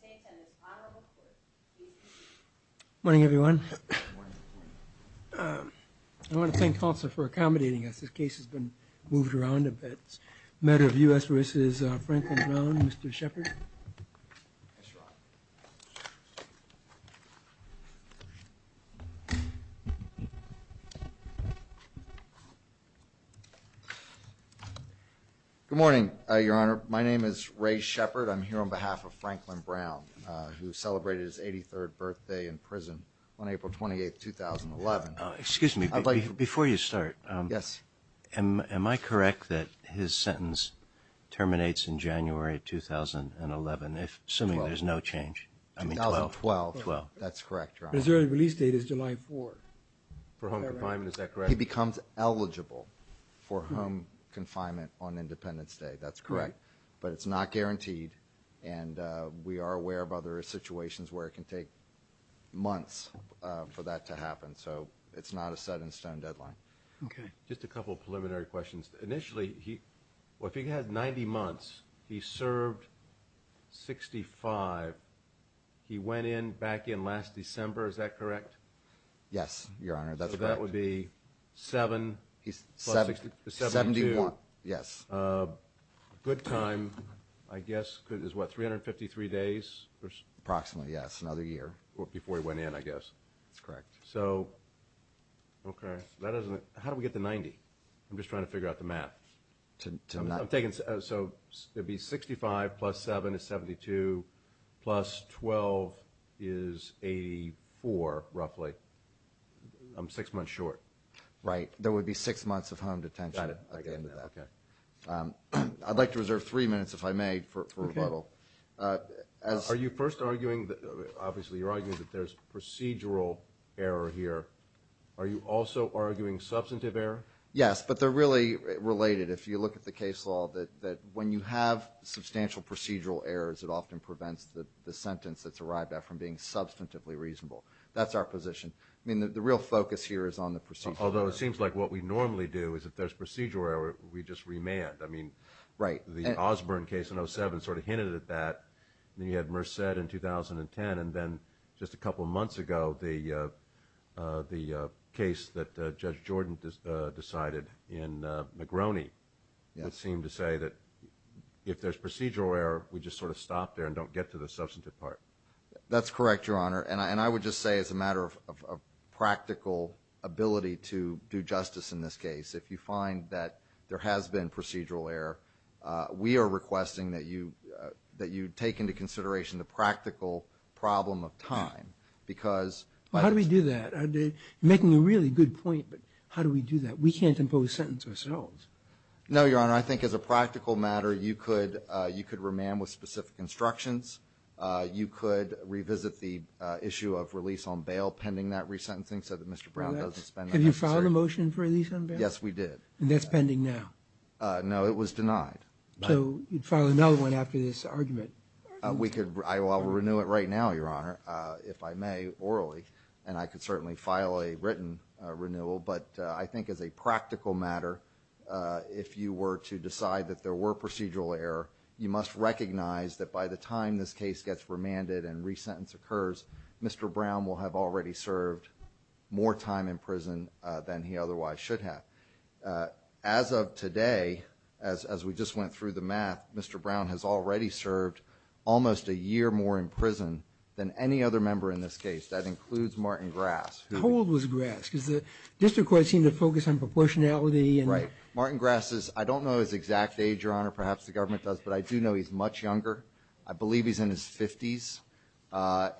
Good morning everyone. I want to thank counsel for accommodating us. This case has been moved around a bit. Matter of U.S. v. Franklin Brown. Mr. Shepard. Good morning, Your Honor. My name is Ray Shepard. I'm here on behalf of Franklin Brown, who celebrated his 83rd birthday in prison on April 28th, 2011. Excuse me. Before you start. Yes. Am I correct that his sentence terminates in January 2011, assuming there's no change? I mean, 2012. That's correct, Your Honor. His early release date is July 4th. For home confinement, is that correct? He becomes eligible for home confinement on Independence Day. That's correct. But it's not guaranteed, and we are aware of other situations where it can take months for that to happen. So it's not a set-in-stone deadline. Okay. Just a couple preliminary questions. Initially, well, if he had 90 months, he served 65. He went in back in last December, is that correct? Yes, Your Honor. That's correct. So that would be He's 71. Yes. Good time, I guess, is what, 353 days? Approximately, yes. Another year. Before he went in, I guess. That's correct. So, okay. How do we get to 90? I'm just trying to figure out the math. So it'd be 65 plus 7 is 72, plus 12 is 84, roughly. I'm six months short. Right. There would be six months of home detention at the end of that. Got it. Okay. I'd like to reserve three minutes, if I may, for rebuttal. Are you first arguing, obviously, you're arguing that there's procedural error here. Are you also arguing substantive error? Yes, but they're really related. If you look at the case law, that when you have substantial procedural errors, it often prevents the sentence that's arrived at from being substantively reasonable. That's our position. I mean, the real focus here is on the procedural error. Although it seems like what we normally do is if there's procedural error, we just remand. I mean, the Osborne case in 07 sort of hinted at that. Then you had Merced in 2010. And then just a couple of months ago, the case that Judge Jordan decided in McGroney, it seemed to say that if there's procedural error, we just sort of stop there and don't get to the substantive part. That's correct, Your Honor. And I would just say as a matter of practical ability to do justice in this case, if you find that there has been procedural error, we are requesting that you take into consideration the practical problem of time, because... Well, how do we do that? You're making a really good point, but how do we do that? We can't impose sentence ourselves. No, Your Honor. I think as a practical matter, you could remand with specific instructions. You could revisit the issue of release on bail pending that resentencing so that Mr. Brown doesn't spend that... Have you filed a motion for release on bail? Yes, we did. And that's pending now? No, it was denied. So you'd file another one after this argument? We could. I will renew it right now, Your Honor, if I may, orally. And I could certainly file a written renewal. But I think as a practical matter, if you were to decide that there were procedural error, you must recognize that by the time this case gets remanded and resentence occurs, Mr. Brown will have already served more time in prison than he otherwise should have. As of today, as we just went through the math, Mr. Brown has already served almost a year more in prison than any other member in this case. That includes Martin Grass, who... The whole was Grass, because the district court seemed to focus on proportionality and... Martin Grass is... I don't know his exact age, Your Honor, perhaps the government does, but I do know he's much younger. I believe he's in his 50s.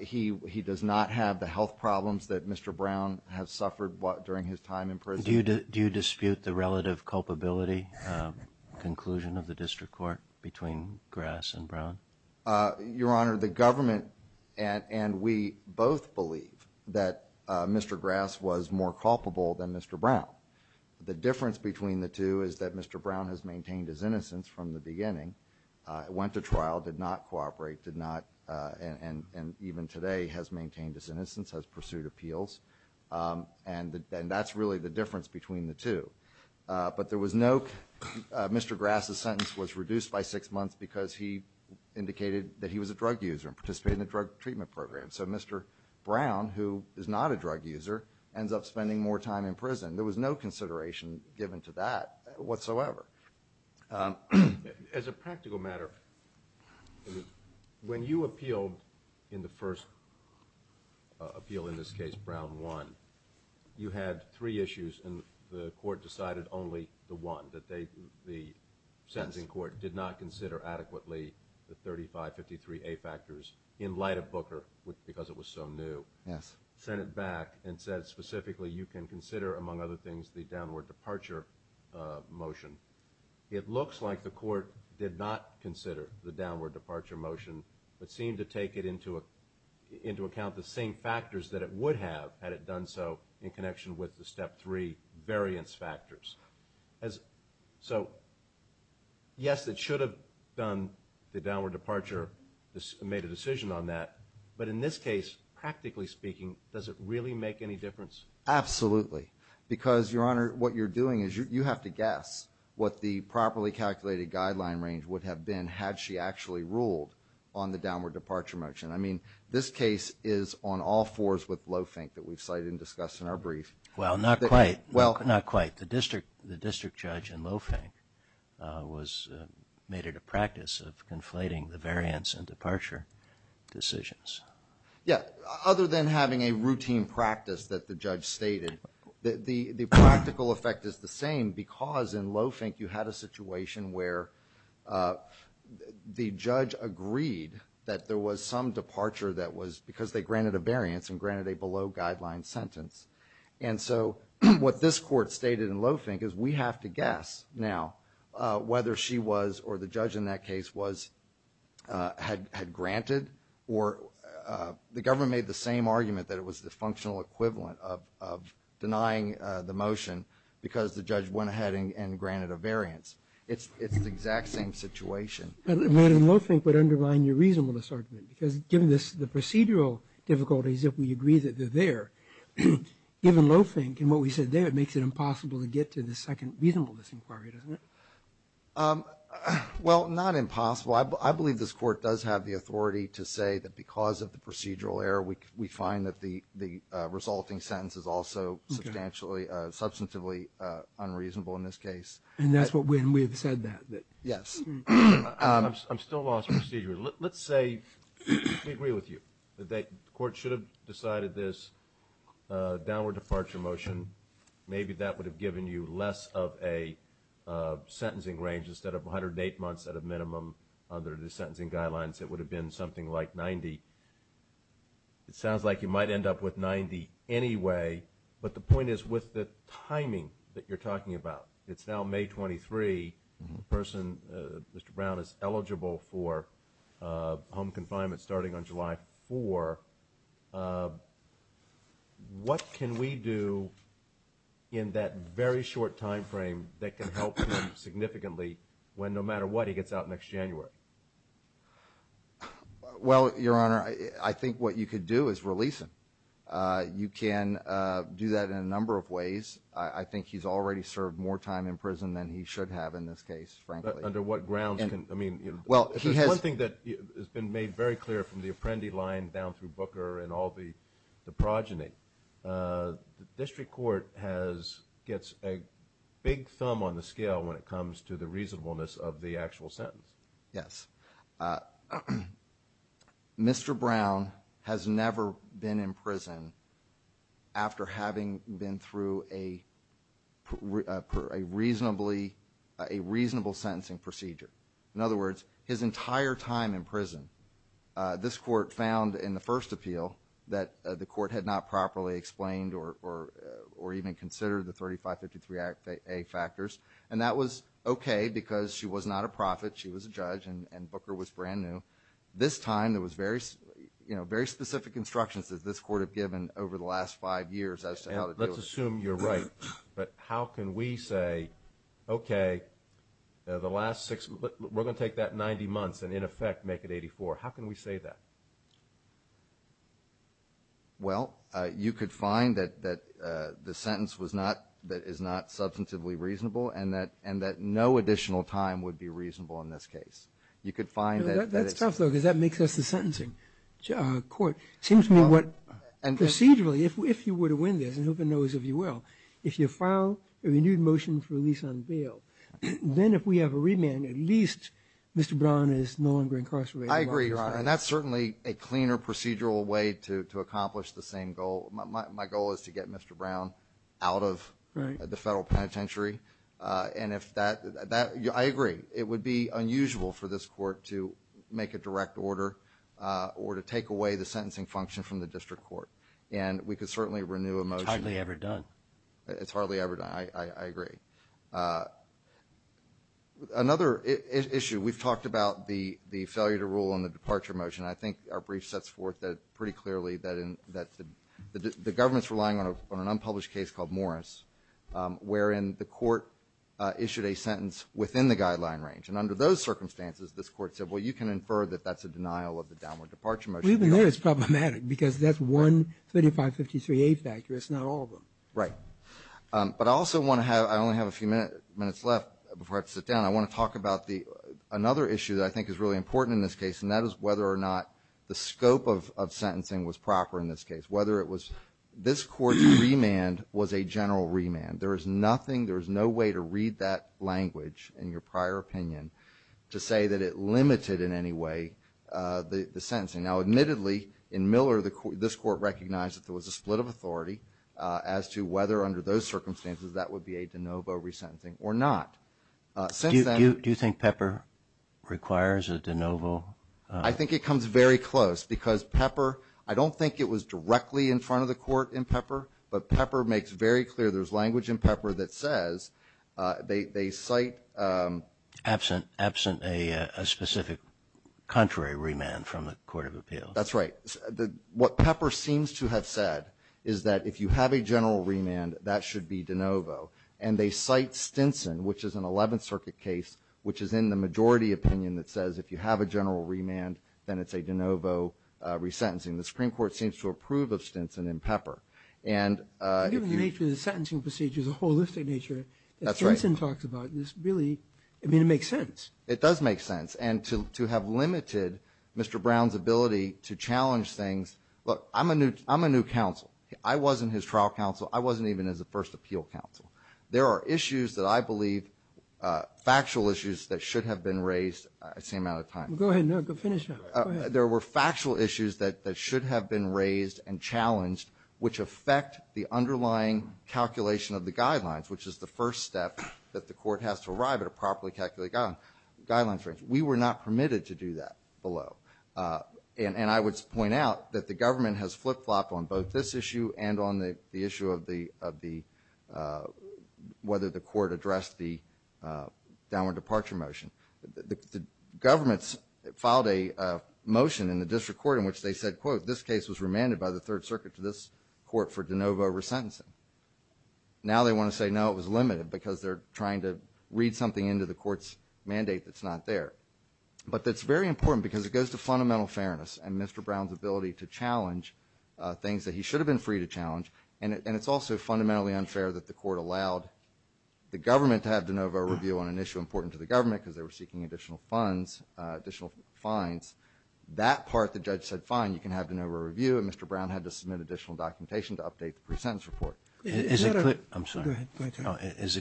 He does not have the health problems that Mr. Brown has suffered during his time in prison. Do you dispute the relative culpability conclusion of the district court between Grass and Brown? Your Honor, the government and we both believe that Mr. Grass was more culpable than Mr. Brown. The difference between the two is that Mr. Brown has maintained his innocence from the beginning, went to trial, did not cooperate, did not... And even today has maintained his innocence, has pursued appeals. And that's really the difference between the two. But there was no... Mr. Grass's sentence was reduced by six months because he indicated that he was a drug user and participated in a drug treatment program. So Mr. Brown, who is not a drug user, has no consideration given to that whatsoever. As a practical matter, when you appealed in the first appeal, in this case Brown 1, you had three issues and the court decided only the one, that the sentencing court did not consider adequately the 3553A factors in light of Booker, because it was so new. Yes. Sent it back and said specifically you can consider, among other things, the downward departure motion. It looks like the court did not consider the downward departure motion, but seemed to take it into account the same factors that it would have had it done so in connection with the step three variance factors. So yes, it should have done the downward departure, made a decision on that, but in this case, practically speaking, does it really make any difference? Absolutely. Because, Your Honor, what you're doing is you have to guess what the properly calculated guideline range would have been had she actually ruled on the downward departure motion. I mean, this case is on all fours with Lofink that we've cited and discussed in our brief. Well, not quite. The district judge in Lofink was made it a practice of conflating the variance and departure decisions. Yeah. Other than having a routine practice that the judge stated, the practical effect is the same because in Lofink you had a situation where the judge agreed that there was some departure that was because they granted a variance and granted a below guideline sentence. And so what this court stated in Lofink is we have to guess now whether she was, or the judge in that case was, had granted or the government made the same argument that it was the functional equivalent of denying the motion because the judge went ahead and granted a variance. It's the exact same situation. Madam, Lofink would undermine your reasonableness argument because given the procedural difficulties, if we agree that they're there, given Lofink and what we said there, it makes it impossible to get to the second reasonableness inquiry, doesn't it? Well, not impossible. I believe this court does have the authority to say that because of the procedural error, we find that the resulting sentence is also substantially unreasonable in this case. And we have said that. Yes. I'm still lost procedurally. Let's say we agree with you that the court should have decided this downward departure motion. Maybe that would have given you less of a sentencing range instead of 108 months at a minimum under the sentencing guidelines. It would have been something like 90. It sounds like you might end up with 90 anyway, but the point is with the timing that you're starting on July 4, what can we do in that very short time frame that can help him significantly when no matter what he gets out next January? Well, Your Honor, I think what you could do is release him. You can do that in a number of ways. I think he's already served more time in prison than he should have in this case, frankly. Under what grounds? There's one thing that has been made very clear from the Apprendi line down through Booker and all the progeny. The district court gets a big thumb on the scale when it comes to the reasonableness of the actual sentence. Yes. Mr. Brown has never been in prison after having been through a reasonable sentencing procedure. In other words, his entire time in prison, this court found in the first appeal that the court had not properly explained or even considered the 3553A factors, and that was okay because she was not a prophet. She was a judge and Booker was brand new. This time, there was very specific instructions that this court had given over the last five years as to how to do it. Let's assume you're right, but how can we say, okay, the last six, we're going to take that 90 months and in effect make it 84. How can we say that? Well, you could find that the sentence was not, that is not substantively reasonable and that no additional time would be reasonable in this case. You could find that. That's tough though because that makes us the sentencing court. It seems to me what procedurally, if you were to win this, and who knows if you will, if you file a renewed motion for release on bail, then if we have a remand, at least Mr. Brown is no longer incarcerated. I agree, Your Honor, and that's certainly a cleaner procedural way to accomplish the same goal. My goal is to get Mr. Brown out of the Federal or to take away the sentencing function from the district court. And we could certainly renew a motion. It's hardly ever done. I agree. Another issue, we've talked about the failure to rule on the departure motion. I think our brief sets forth that pretty clearly that the government's relying on an unpublished case called Morris, wherein the court issued a sentence within the guideline range. And under those circumstances, this court said, well, you can infer that that's a denial of the downward departure motion. We know it's problematic because that's one 3553A factor. It's not all of them. Right. But I also want to have, I only have a few minutes left before I have to sit down. I want to talk about another issue that I think is really important in this case, and that is whether or not the scope of sentencing was proper in this case. Whether it was, this court's remand was a general remand. There is nothing, there is no way to read that the sentencing. Now, admittedly, in Miller, this court recognized that there was a split of authority as to whether under those circumstances that would be a de novo resentencing or not. Do you think Pepper requires a de novo? I think it comes very close because Pepper, I don't think it was directly in front of the court in Pepper, but Pepper makes very clear there's language in Pepper that says they cite. Absent a specific contrary remand from the Court of Appeals. That's right. What Pepper seems to have said is that if you have a general remand, that should be de novo. And they cite Stinson, which is an 11th Circuit case, which is in the majority opinion that says if you have a general remand, then it's a de novo resentencing. The holistic nature that Stinson talks about, this really, I mean, it makes sense. It does make sense. And to have limited Mr. Brown's ability to challenge things, look, I'm a new counsel. I wasn't his trial counsel. I wasn't even his first appeal counsel. There are issues that I believe, factual issues that should have been raised at the same amount of time. Go ahead, finish up. There were factual issues that should have been raised and challenged which affect the underlying calculation of the guidelines, which is the first step that the court has to arrive at a properly calculated guidelines range. We were not permitted to do that below. And I would point out that the government has flip-flopped on both this issue and on the issue of whether the court addressed the downward departure motion. The governments filed a motion in the district court in which they said, quote, this case was remanded by the court for de novo resentencing. Now they want to say, no, it was limited because they're trying to read something into the court's mandate that's not there. But that's very important because it goes to fundamental fairness and Mr. Brown's ability to challenge things that he should have been free to challenge. And it's also fundamentally unfair that the court allowed the government to have de novo review on an issue important to the government because they were seeking additional funds, additional fines. That part, the judge said, fine, you can have de novo review. And Mr. Brown had to submit additional documentation to update the pre-sentence report. Is it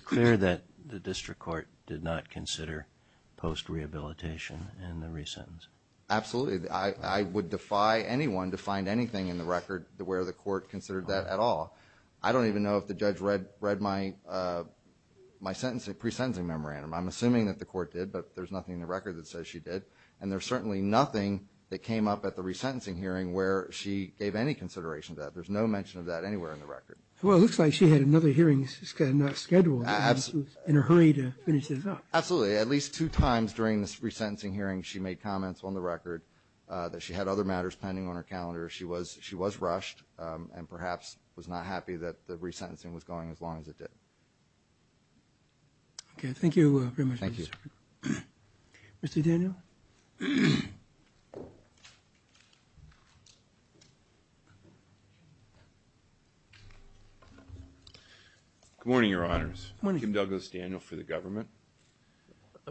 clear that the district court did not consider post-rehabilitation in the re-sentence? Absolutely. I would defy anyone to find anything in the record where the court considered that at all. I don't even know if the judge read my pre-sentencing memorandum. I'm assuming that the court did, but there's nothing in the record that says she did. And there's certainly nothing that came up at the re-sentencing hearing where she gave any consideration to that. There's no mention of that anywhere in the record. Well, it looks like she had another hearing scheduled in a hurry to finish this up. Absolutely. At least two times during this re-sentencing hearing, she made comments on the record that she had other matters pending on her calendar. She was rushed and perhaps was not happy that the re-sentencing was going as long as it did. Okay. Thank you very much. Thank you. Mr. Daniel? Good morning, Your Honors. Kim Douglas, Daniel for the government.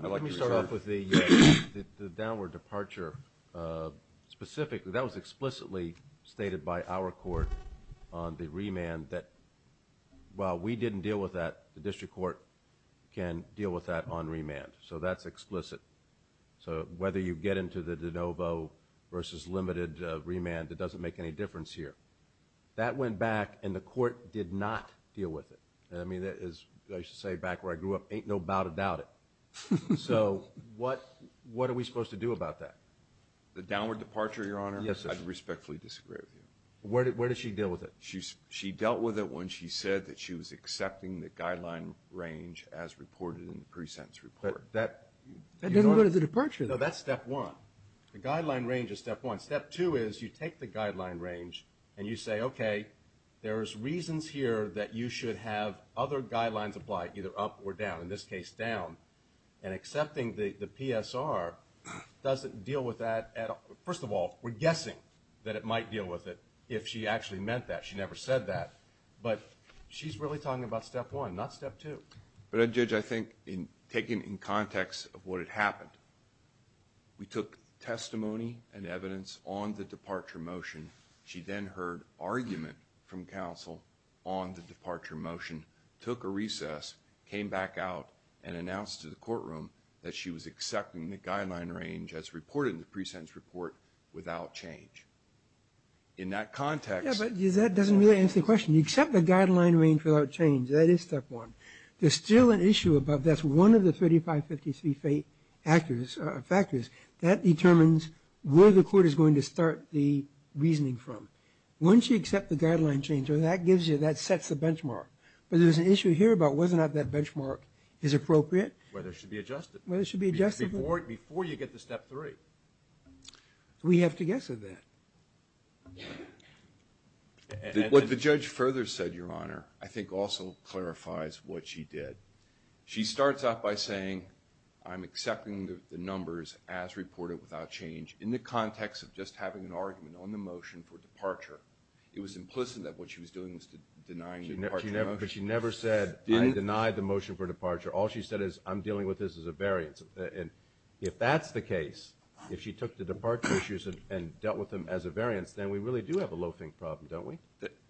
Let me start off with the downward departure. Specifically, that was explicitly stated by our court on the remand that while we didn't deal with that, the district court can deal with that on remand. So, that's explicit. So, whether you get into the de novo versus limited remand, it doesn't make any difference here. That went back and the court did not deal with it. I mean, I used to say back where I grew up, ain't no doubt about it. So, what are we supposed to do about that? The downward departure, Your Honor? Yes, sir. I respectfully disagree with you. Where did she deal with it? She dealt with it when she said that she was accepting the guideline range as reported in the pre-sentence report. That doesn't go to the departure, though. No, that's step one. The guideline range is step one. Step two is you take the guideline range and you say, okay, there's reasons here that you should have other guidelines applied, either up or down. In this case, down. And accepting the PSR doesn't deal with that at all. First of all, we're guessing that it might deal with it if she actually meant that. She never said that, but she's really talking about step one, not step two. But, Judge, I think in taking in context of what had happened, we took testimony and evidence on the departure motion. She then heard argument from counsel on the departure motion, took a recess, came back out, and announced to the courtroom that she was accepting the guideline range as reported in the pre-sentence report without change. In that context... Yeah, but that doesn't really answer the question. You accept the guideline range without change. That is step one. There's still an issue about that's one of the 3553 factors that determines where the court is going to start the reasoning from. Once you accept the guideline change, that gives you, that sets the benchmark. But there's an issue here about whether or not that benchmark is appropriate. Whether it should be adjusted. Whether it should be adjusted to step three. We have to guess at that. What the judge further said, Your Honor, I think also clarifies what she did. She starts off by saying, I'm accepting the numbers as reported without change in the context of just having an argument on the motion for departure. It was implicit that what she was doing was denying the departure motion. But she never said, I deny the motion for departure. All she said is, I'm dealing with this as a variance. And if that's the case, if she took the departure issues and dealt with them as a variance, then we really do have a loafing problem, don't we?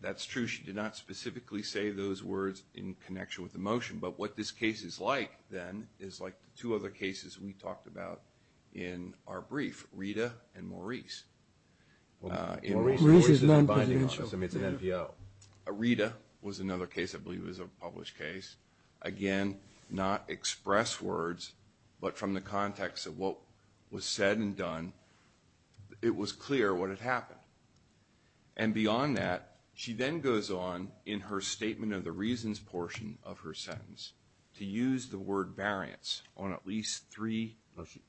That's true. She did not specifically say those words in connection with the motion. But what this case is like, then, is like the two other cases we talked about in our brief, Rita and Maurice. Well, Maurice is non-presidential. I mean, it's an NPO. Rita was another case I believe was a published case. Again, not express words, but from the context of what was said and done, it was clear what had happened. And beyond that, she then goes on in her statement of the reasons portion of her sentence to use the word variance on at least three.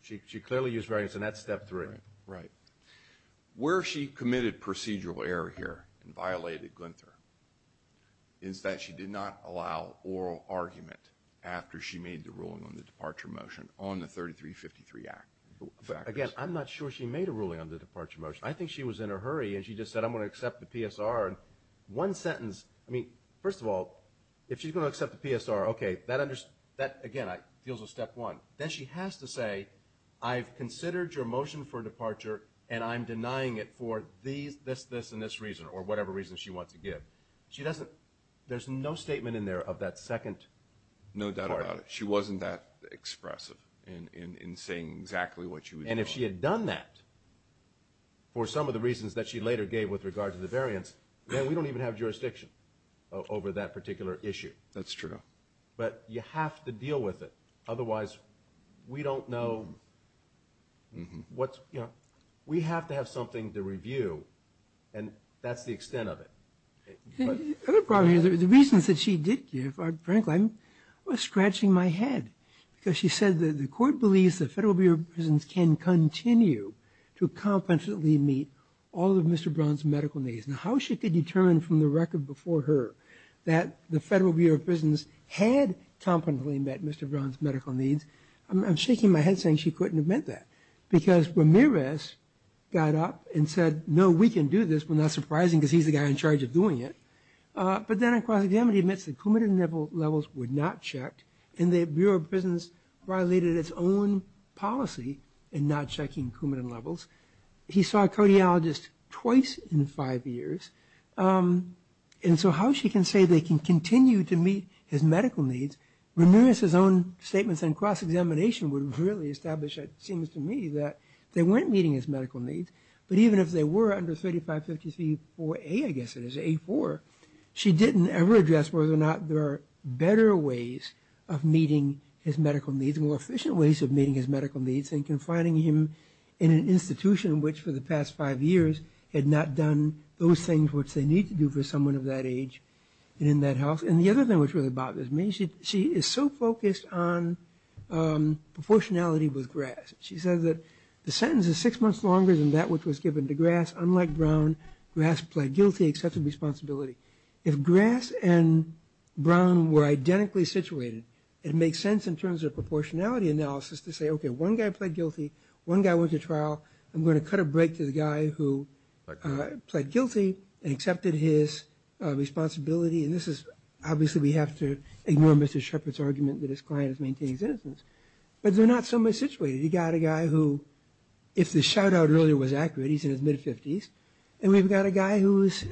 She clearly used variance on that step three. Right. Where she committed procedural error here and violated Glynther is that she did not allow oral argument after she made the ruling on the departure motion on the 3353 Act. Again, I'm not sure she made a ruling on the departure motion. I think she was in a hurry and she just said, I'm going to accept the PSR. And one sentence, I mean, first of all, if she's going to accept the PSR, okay, that, again, deals with step one. Then she has to say, I've considered your motion for departure and I'm denying it for this, this, and this reason or whatever reason she wants to give. She doesn't, there's no statement in there of that second. No doubt about it. She wasn't that expressive in saying exactly what she was. And if she had done that for some of the reasons that she later gave with regard to the variance, then we don't even have jurisdiction over that particular issue. That's true. But you have to deal with it. Otherwise we don't know what's, you know, we have to have something to review and that's the extent of it. Another problem here, the reasons that she did give are frankly, I'm scratching my head because she said that the court believes the Federal Bureau of Prisons can continue to competently meet all of Mr. Brown's medical needs. And how she could determine from the record before her that the Federal Bureau of Prisons had competently met Mr. Brown's medical needs, I'm shaking my head saying she couldn't have meant that. Because Ramirez got up and said, no, we can do this, we're not surprising because he's the guy in charge of doing it. But then in cross-examination he admits that coumadin levels were not checked and the Bureau of Prisons violated its own policy in not checking coumadin levels. He saw a cardiologist twice in five years. And so how she can say they can continue to meet his medical needs, Ramirez's own statements in cross-examination would really establish, it seems to me, that they weren't meeting his medical needs. But even if they were under 3553-4A, I guess it is, A-4, she didn't ever address whether or not there are better ways of meeting his medical needs, more efficient ways of meeting his medical needs than confining him in an institution which for the past five years had not done those things which they need to do for someone of that age and in that health. And the other thing which really bothers me, she is so focused on proportionality with Grass. She says that the sentence is six months longer than that which was given to Grass. Unlike Brown, Grass pled guilty, accepted responsibility. If Grass and Brown were identically situated, it makes sense in terms of proportionality analysis to say, okay, one guy pled guilty, one guy went to trial, I'm going to cut a break to the guy who pled guilty and accepted his responsibility. And this is, obviously, we have to ignore Mr. Shepard's argument that his client is maintaining citizens. But they're not similarly situated. You got a guy who, if the shout out earlier was accurate, he's in his mid-50s, and we've got a guy who is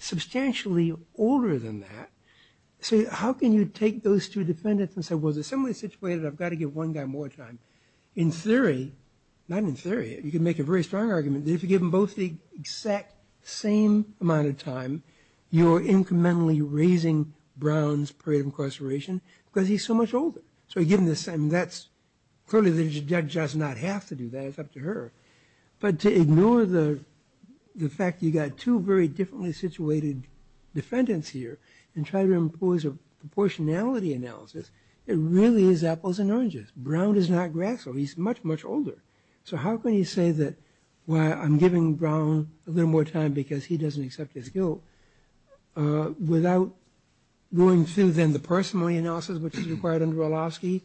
substantially older than that. So how can you take those two defendants and say, well, they're similarly situated, I've got to give one guy more time. In theory, not in theory, you can make a very strong argument that if you give them both the exact same amount of Brown's period of incarceration, because he's so much older. So you give him the same, that's, clearly, the judge does not have to do that, it's up to her. But to ignore the fact you got two very differently situated defendants here and try to impose a proportionality analysis, it really is apples and oranges. Brown is not Grass though, he's much, much older. So how can you say that, well, I'm giving Brown a little more time because he doesn't accept his guilt, without going through then the parsimony analysis, which is required under Wolofsky,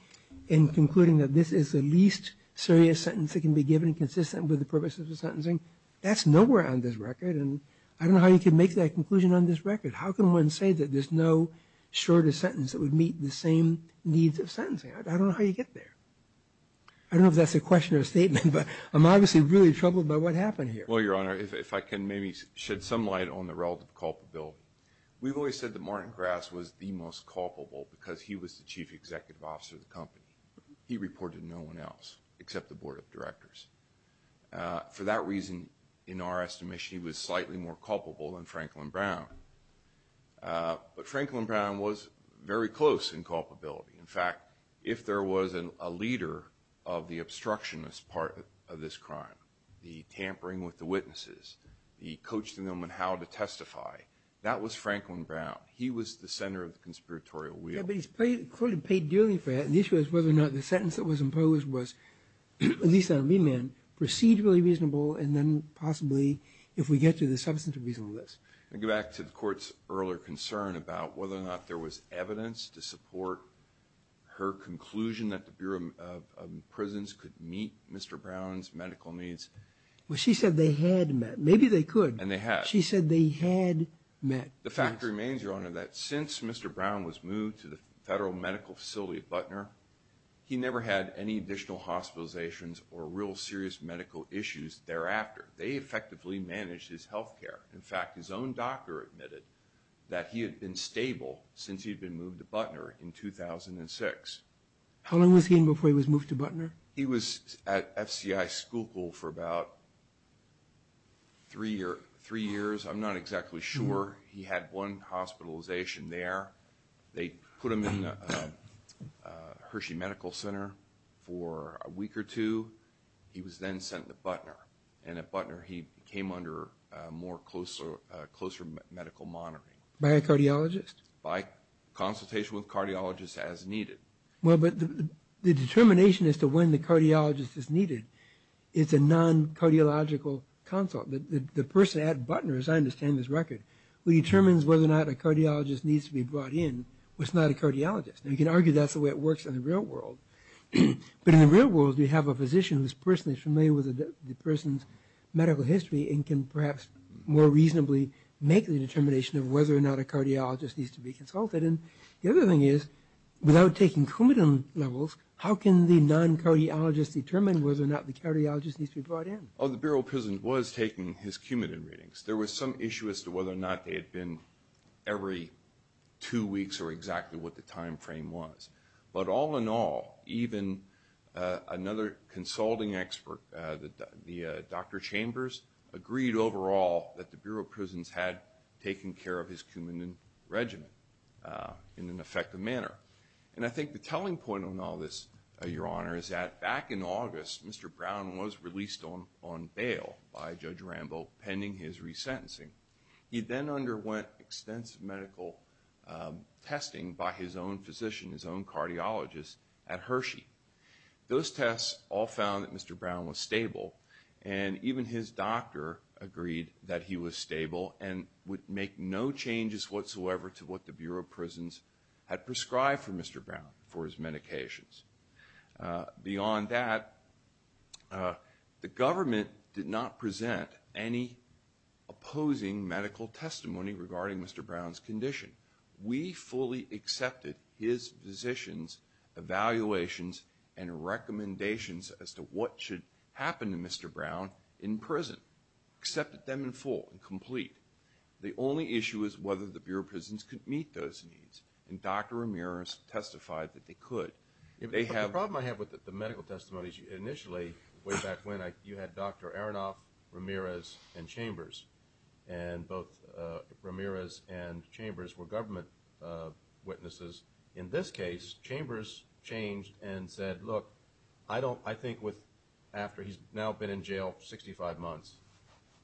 and concluding that this is the least serious sentence that can be given consistent with the purpose of the sentencing. That's nowhere on this record, and I don't know how you can make that conclusion on this record. How can one say that there's no shorter sentence that would meet the same needs of sentencing? I don't know how you get there. I don't know if that's a question or what happened here. Well, Your Honor, if I can maybe shed some light on the relative culpability. We've always said that Martin Grass was the most culpable because he was the chief executive officer of the company. He reported no one else except the board of directors. For that reason, in our estimation, he was slightly more culpable than Franklin Brown. But Franklin Brown was very close in culpability. In fact, if there was a leader of the obstructionist part of this crime, the tampering with the witnesses, the coaching them on how to testify, that was Franklin Brown. He was the center of the conspiratorial wheel. Yeah, but he's clearly paid dearly for that, and the issue is whether or not the sentence that was imposed was, at least on the mean man, procedurally reasonable, and then possibly, if we get to the substantive reasonableness. I go back to the Court's earlier concern about whether or not there was evidence to Brown's medical needs. Well, she said they had met. Maybe they could. And they had. She said they had met. The fact remains, Your Honor, that since Mr. Brown was moved to the federal medical facility at Butner, he never had any additional hospitalizations or real serious medical issues thereafter. They effectively managed his health care. In fact, his own doctor admitted that he had been stable since he'd been moved to Butner in 2006. How long was he in before he was moved to Butner? He was at FCI Schuylkill for about three years. I'm not exactly sure. He had one hospitalization there. They put him in the Hershey Medical Center for a week or two. He was then sent to Butner, and at Butner he came under more closer medical monitoring. By a cardiologist? By consultation with cardiologists as needed. Well, but the determination as to when the cardiologist is needed is a non-cardiological consult. The person at Butner, as I understand this record, who determines whether or not a cardiologist needs to be brought in was not a cardiologist. Now, you can argue that's the way it works in the real world. But in the real world, you have a physician who is personally familiar with the person's medical history and can perhaps more reasonably make the determination of whether or not a cardiologist needs to be consulted. And the other thing is, without taking Coumadin levels, how can the non-cardiologist determine whether or not the cardiologist needs to be brought in? Well, the Bureau of Prisons was taking his Coumadin readings. There was some issue as to whether or not they had been every two weeks or exactly what the time frame was. But all in all, even another consulting expert, Dr. Chambers, agreed overall that the Bureau of Prisons had taken care of his Coumadin regimen in an effective manner. And I think the telling point on all this, Your Honor, is that back in August, Mr. Brown was released on bail by Judge Rambo pending his resentencing. He then underwent extensive medical testing by his own physician, his own cardiologist at Hershey. Those tests all found that Mr. Brown was stable. And even his doctor agreed that he was stable and would make no changes whatsoever to what the Bureau of Prisons had prescribed for Mr. Brown for his medications. Beyond that, the government did not present any opposing medical testimony regarding Mr. Brown's condition. We fully accepted his physician's evaluations and recommendations as to what should happen to Mr. Brown in prison. Accepted them in full and complete. The only issue is whether the Bureau of Prisons could meet those needs. And Dr. Ramirez testified that they could. The problem I have with the medical testimony is initially, way back when, you had Dr. Aronoff, Ramirez, and Chambers. And both Ramirez and Chambers were government witnesses. In this case, Chambers changed and said, look, I don't – I think with – after he's now been in jail 65 months,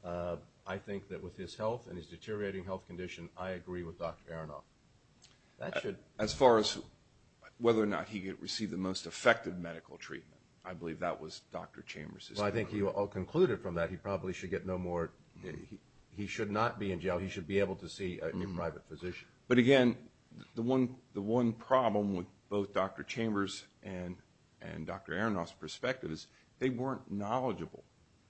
I think that with his health and his deteriorating health condition, I agree with Dr. Aronoff. That should – As far as whether or not he received the most effective medical treatment, I think he all concluded from that he probably should get no more – he should not be in jail. He should be able to see a new private physician. But again, the one problem with both Dr. Chambers and Dr. Aronoff's perspective is they weren't knowledgeable.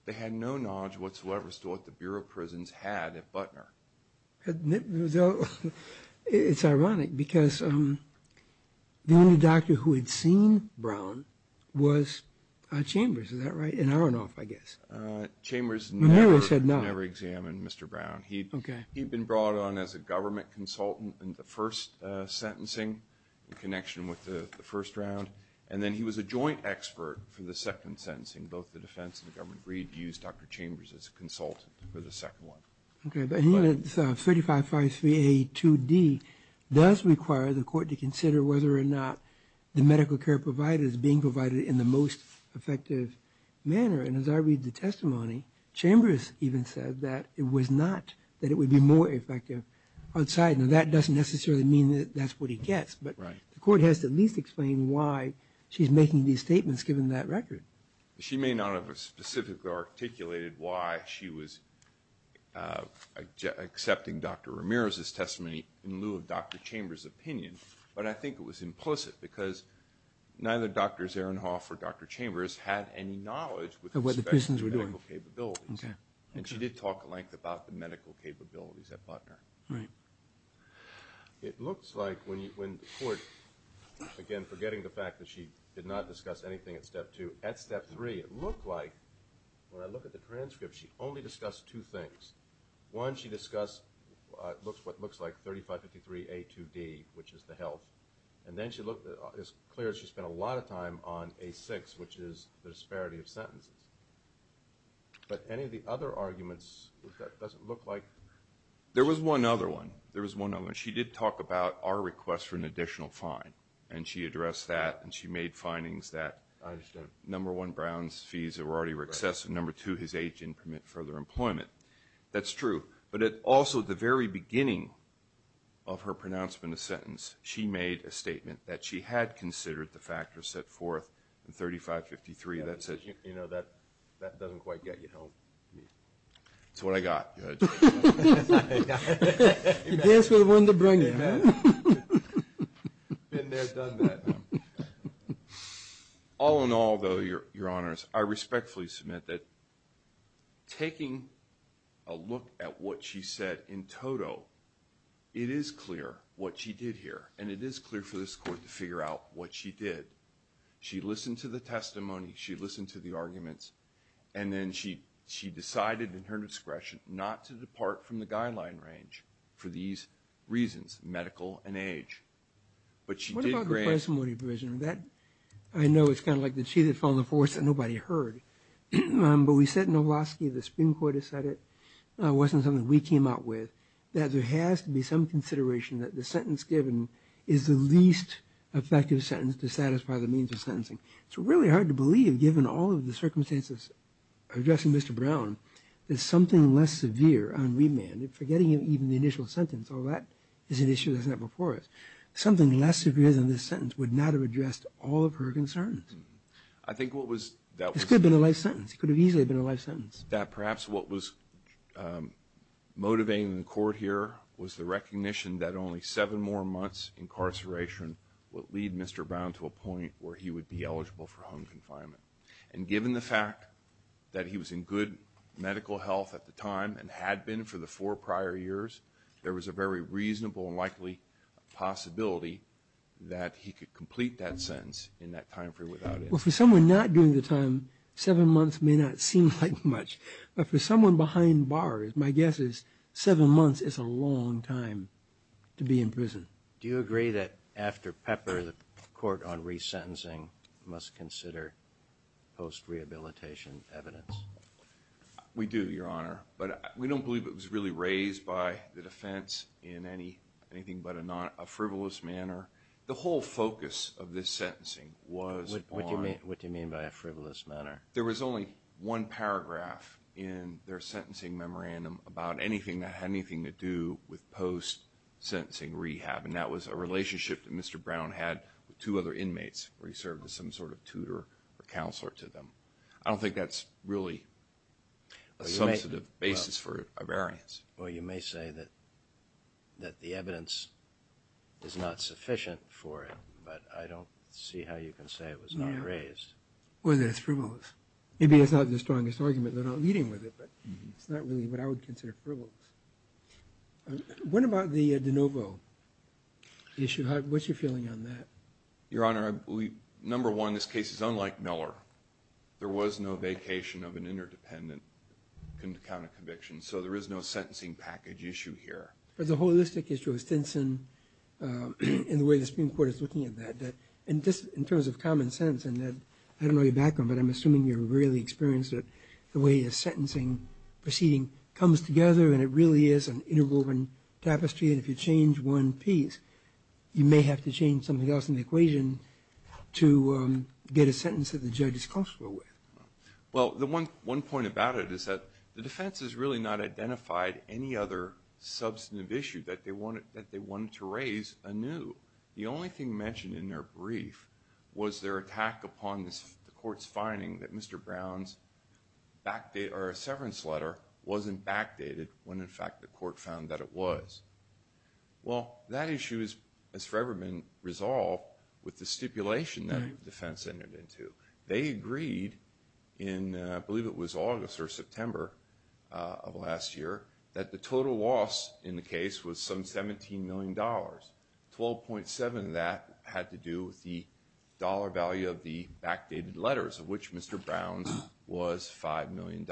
They had no knowledge whatsoever as to what the Bureau of Prisons had at Butner. It's ironic because the only doctor who had seen Brown was Chambers. Is that right? And Aronoff, I guess. Chambers never examined Mr. Brown. He'd been brought on as a government consultant in the first sentencing in connection with the first round. And then he was a joint expert for the second sentencing. Both the defense and the government agreed to use Dr. Chambers as a consultant for the second one. Okay. But 35-5-3-A-2-D does require the court to consider whether or not the medical care provided is being provided in the most effective manner. And as I read the testimony, Chambers even said that it was not, that it would be more effective outside. Now, that doesn't necessarily mean that that's what he gets, but the court has to at least explain why she's making these statements given that record. She may not have specifically articulated why she was accepting Dr. Ramirez's testimony in lieu of Dr. Chambers' opinion, but I think it was implicit because neither Dr. Aronoff or Dr. Chambers had any knowledge with respect to medical capabilities. Okay. And she did talk at length about the medical capabilities at Butler. Right. It looks like when you, when the court, again, forgetting the fact that she did not discuss anything at step two, at step three, it looked like, when I look at the transcript, she only discussed two things. One, she discussed what looks like 3553-A-2-D, which is the health, and then she looked as clear as she spent a lot of time on A-6, which is the disparity of sentences. But any of the other arguments, that doesn't look like... There was one other one. There was one other one. She did talk about our request for an additional fine, and she addressed that, and she made findings that number one, Brown's fees were already excessive, and number two, his age didn't permit further employment. That's true. But it also, at the very beginning of her pronouncement of sentence, she made a statement that she had considered the factors set forth in 3553, that said... You know, that doesn't quite get you home. It's what I got. I guess we're one to bring it, man. Been there, done that. All in all, though, Your Honors, I respectfully submit that taking a look at what she said in total, it is clear what she did here, and it is clear for this Court to figure out what she did. She listened to the testimony, she listened to the arguments, and then she decided, in her discretion, not to depart from the guideline range for these reasons, medical and age. But she did grant... What about the parsimony provision? That, I know, it's kind of like the cheated from the force that nobody heard. But we said in Novoselicki, the Supreme Court has said it, wasn't something we came out with, that there has to be some consideration that the sentence given is the least effective sentence to satisfy the means of sentencing. It's really hard to believe, given all of the circumstances addressing Mr. Brown, that something less severe on remand, forgetting even the initial sentence, is an issue that's not before us. Something less severe than this sentence would not have addressed all of her concerns. I think what was... This could have been a life sentence. It could have easily been a life sentence. That perhaps what was motivating the Court here was the recognition that only seven more months incarceration would lead Mr. Brown to a point where he would be eligible for home confinement. And given the fact that he was in good medical health at the time, and had been for the four years, there was a very reasonable and likely possibility that he could complete that sentence in that time period without it. Well, for someone not doing the time, seven months may not seem like much. But for someone behind bars, my guess is seven months is a long time to be in prison. Do you agree that after Pepper, the Court on resentencing must consider post-rehabilitation evidence? We do, Your Honor. But we don't believe it was really raised by the defense in anything but a frivolous manner. The whole focus of this sentencing was on... What do you mean by a frivolous manner? There was only one paragraph in their sentencing memorandum about anything that had anything to do with post-sentencing rehab. And that was a relationship that Mr. Brown had with two other inmates where he served as some sort of tutor or counselor to them. I don't think that's really a substantive basis for a variance. Well, you may say that the evidence is not sufficient for it, but I don't see how you can say it was not raised. Well, then it's frivolous. Maybe that's not the strongest argument. They're not leading with it, but it's not really what I would consider frivolous. What about the de novo issue? What's your feeling on that? Your Honor, I believe, number one, this case is unlike Miller. There was no vacation of an interdependent counter-conviction, so there is no sentencing package issue here. But the holistic issue of Stinson and the way the Supreme Court is looking at that, and just in terms of common sense, and I don't know your background, but I'm assuming you're really experienced at the way a sentencing proceeding comes together, and it really is an interwoven tapestry. And if you change one piece, you may have to change something else in the equation to get a sentence that the judges comfortable with. Well, one point about it is that the defense has really not identified any other substantive issue that they wanted to raise anew. The only thing mentioned in their brief was their attack upon the Court's finding that Mr. Brown's severance letter wasn't backdated when, in fact, the Court found that it was. Well, that issue has forever been resolved with the stipulation that the defense entered into. They agreed in, I believe it was August or September of last year, that the total loss in the case was some $17 million. 12.7 of that had to do with the dollar value of the backdated letters, of which Mr. Brown's was $5 million.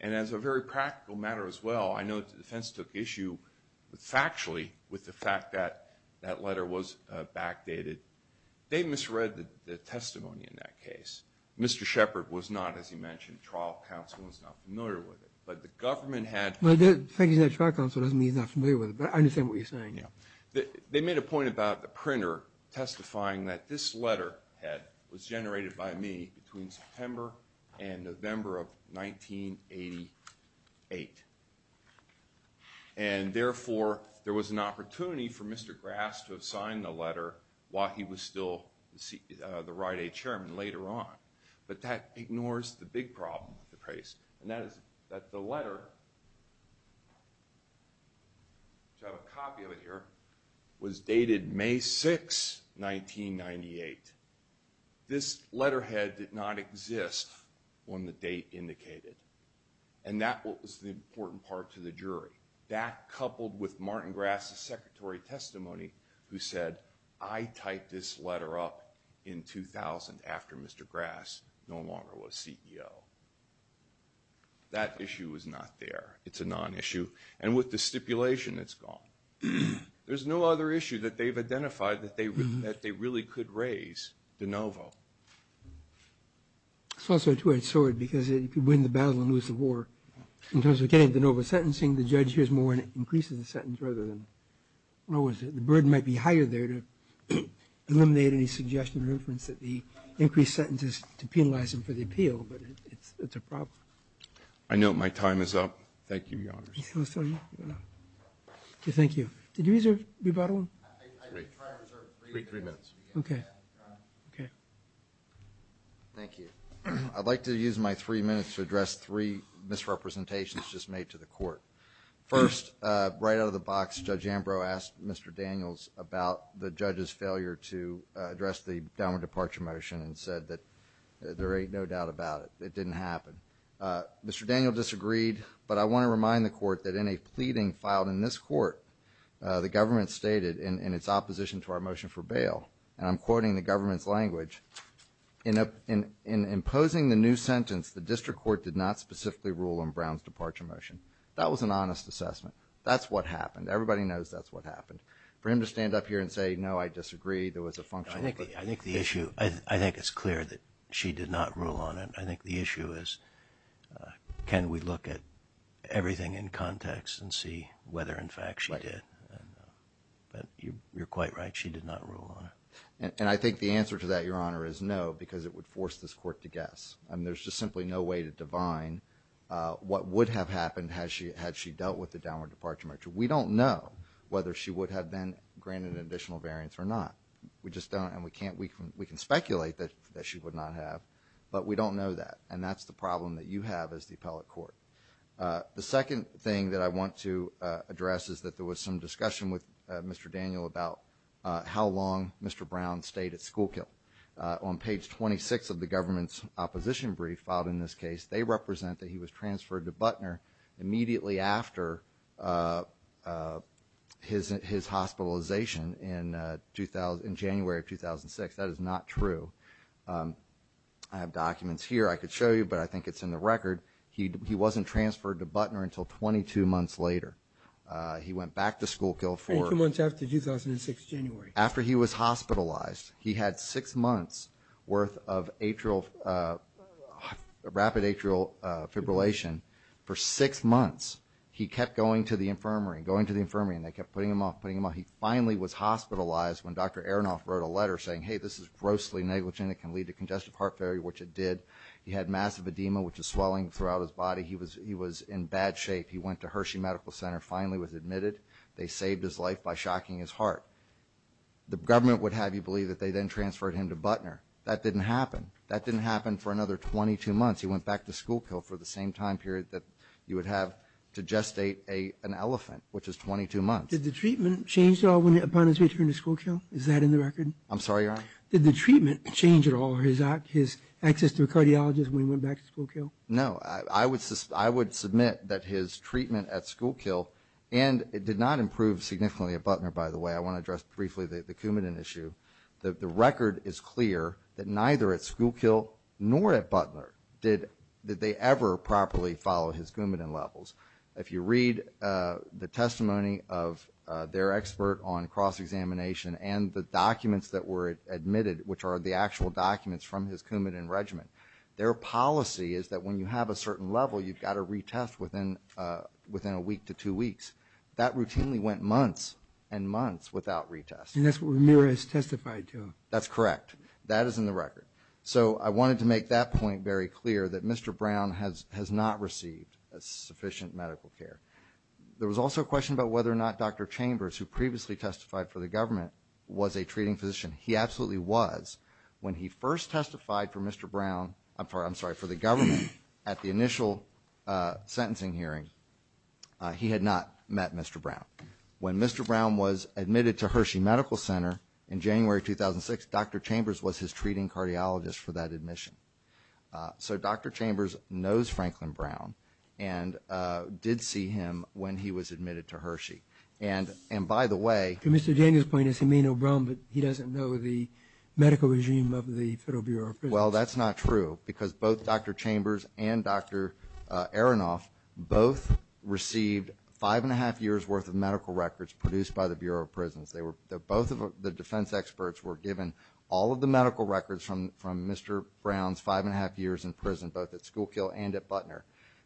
And as a very practical matter as well, I know the defense took issue factually with the fact that that letter was backdated. They misread the testimony in that case. Mr. Shepard was not, as you mentioned, trial counsel and was not familiar with it. But the government had... Well, the fact that he's not trial counsel doesn't mean he's not familiar with it, but I understand what you're saying. They made a point about the printer testifying that this letter was generated by me between September and November of 1988. And therefore, there was an opportunity for Mr. Grass to have signed the letter while he was still the Rite Aid chairman later on. But that ignores the big problem with the case, and that is that the letter, which I have a copy of it here, was dated May 6, 1998. This letterhead did not exist on the date indicated, and that was the important part to the jury. That coupled with Martin Grass's secretary testimony who said, I typed this letter up in 2000 after Mr. Grass no longer was CEO. That issue is not there. It's a non-issue. And with the stipulation, it's gone. There's no other issue that they've identified that they really could raise de novo. It's also a two-edged sword because if you win the battle and lose the war, in terms of getting de novo sentencing, the judge hears more and increases the sentence rather than lowers it. The burden might be higher there to eliminate any suggestion or inference that the increased sentence is to penalize him for the appeal, but it's a problem. I note my time is up. Thank you, Your Honors. Thank you. Did you reserve rebuttal? I reserve three minutes. Okay. Thank you. I'd like to use my three minutes to address three misrepresentations just made to the court. First, right out of the box, Judge Ambrose asked Mr. Daniels about the judge's departure motion and said that there ain't no doubt about it. It didn't happen. Mr. Daniel disagreed, but I want to remind the court that in a pleading filed in this court, the government stated in its opposition to our motion for bail, and I'm quoting the government's language, in imposing the new sentence, the district court did not specifically rule on Brown's departure motion. That was an honest assessment. That's what happened. Everybody knows that's what happened. For him to stand up here and say, no, I disagree, there was a function. I think the issue, I think it's clear that she did not rule on it. I think the issue is, can we look at everything in context and see whether, in fact, she did? But you're quite right. She did not rule on it. And I think the answer to that, Your Honor, is no, because it would force this court to guess. I mean, there's just simply no way to divine what would have happened had she dealt with the downward departure motion. We don't know whether she would have been granted additional variance or not. We just don't, and we can speculate that she would not have, but we don't know that. And that's the problem that you have as the appellate court. The second thing that I want to address is that there was some discussion with Mr. Daniel about how long Mr. Brown stayed at Schoolkill. On page 26 of the government's opposition brief filed in this case, they represent that he was transferred to Butner immediately after his hospitalization in January of 2006. That is not true. I have documents here I could show you, but I think it's in the record. He wasn't transferred to Butner until 22 months later. He went back to Schoolkill for- Twenty-two months after 2006, January. After he was hospitalized, he had six months worth of rapid atrial fibrillation. For six months, he kept going to the infirmary, going to the infirmary, and they kept putting him off, putting him off. He finally was hospitalized when Dr. Aronoff wrote a letter saying, hey, this is grossly negligent. It can lead to congestive heart failure, which it did. He had massive edema, which is swelling throughout his body. He was in bad shape. He went to Hershey Medical Center, finally was admitted. They saved his life by shocking his The government would have you believe that they then transferred him to Butner. That didn't happen. That didn't happen for another 22 months. He went back to Schoolkill for the same time period that you would have to gestate an elephant, which is 22 months. Did the treatment change at all upon his return to Schoolkill? Is that in the record? I'm sorry, Your Honor? Did the treatment change at all, his access to a cardiologist when he went back to Schoolkill? No. I would submit that his treatment at Schoolkill, and it did not improve significantly at Butner, by the way. I want to address briefly the Coumadin issue. The record is clear that neither at Schoolkill nor at Butner did they ever properly follow his Coumadin levels. If you read the testimony of their expert on cross-examination and the documents that were admitted, which are the actual documents from his Coumadin regimen, their policy is that when you have a certain level, you've got to retest within a week to two weeks. That routinely went months and months without retesting. And that's what Ramirez testified to. That's correct. That is in the record. So I wanted to make that point very clear, that Mr. Brown has not received sufficient medical care. There was also a question about whether or not Dr. Chambers, who previously testified for the government, was a treating physician. He absolutely was. When he first testified for Mr. Brown, I'm sorry, for the government, at the initial sentencing hearing, he had not met Mr. Brown. When Mr. Brown was admitted to Hershey Medical Center in January 2006, Dr. Chambers was his treating cardiologist for that admission. So Dr. Chambers knows Franklin Brown and did see him when he was admitted to Hershey. And by the way... To Mr. Daniel's point, he may know Brown, but he doesn't know the medical regime of the Federal Bureau of Prisons. Well, that's not true, because both Dr. Chambers and Dr. Aronoff both received five and a half years' worth of medical records produced by the Bureau of Prisons. Both of the defense experts were given all of the medical records from Mr. Brown's five and a half years in prison, both at Schoolkill and at Butner.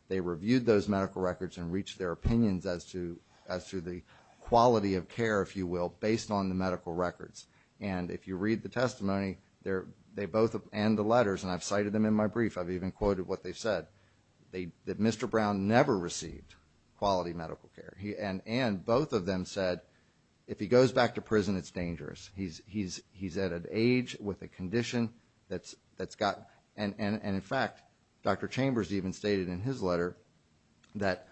They reviewed those medical records and reached their opinions as to the quality of care, if you will, based on the medical records. And if you read the testimony, they both, and the letters, and I've cited them in my brief, I've even quoted what they've said, that Mr. Brown never received quality medical care. And both of them said, if he goes back to prison, it's dangerous. He's at an age with a condition that's got... And in fact, Dr. Chambers even stated in his letter that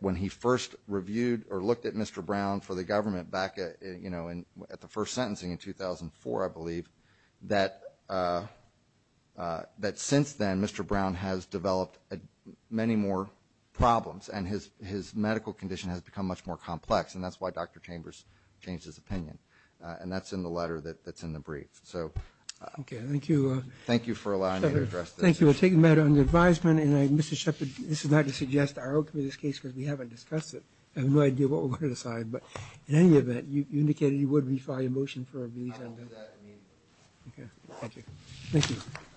when he first reviewed or looked at Mr. Brown for the government back at the first sentencing in 2004, I believe, that since then, Mr. Brown has developed many more problems, and his medical condition has become much more complex. And that's why Dr. Chambers changed his opinion. And that's in the letter that's in the brief. So... Okay. Thank you. Thank you for allowing me to address this issue. Thank you. We'll take a matter under advisement. And Mr. Shepard, this is not to suggest our opening of this case, because we haven't discussed it. I have no idea what we're going to decide. But in any event, you indicated you would refile your motion for a release on that. I will do that immediately. Okay. Thank you. Thank you.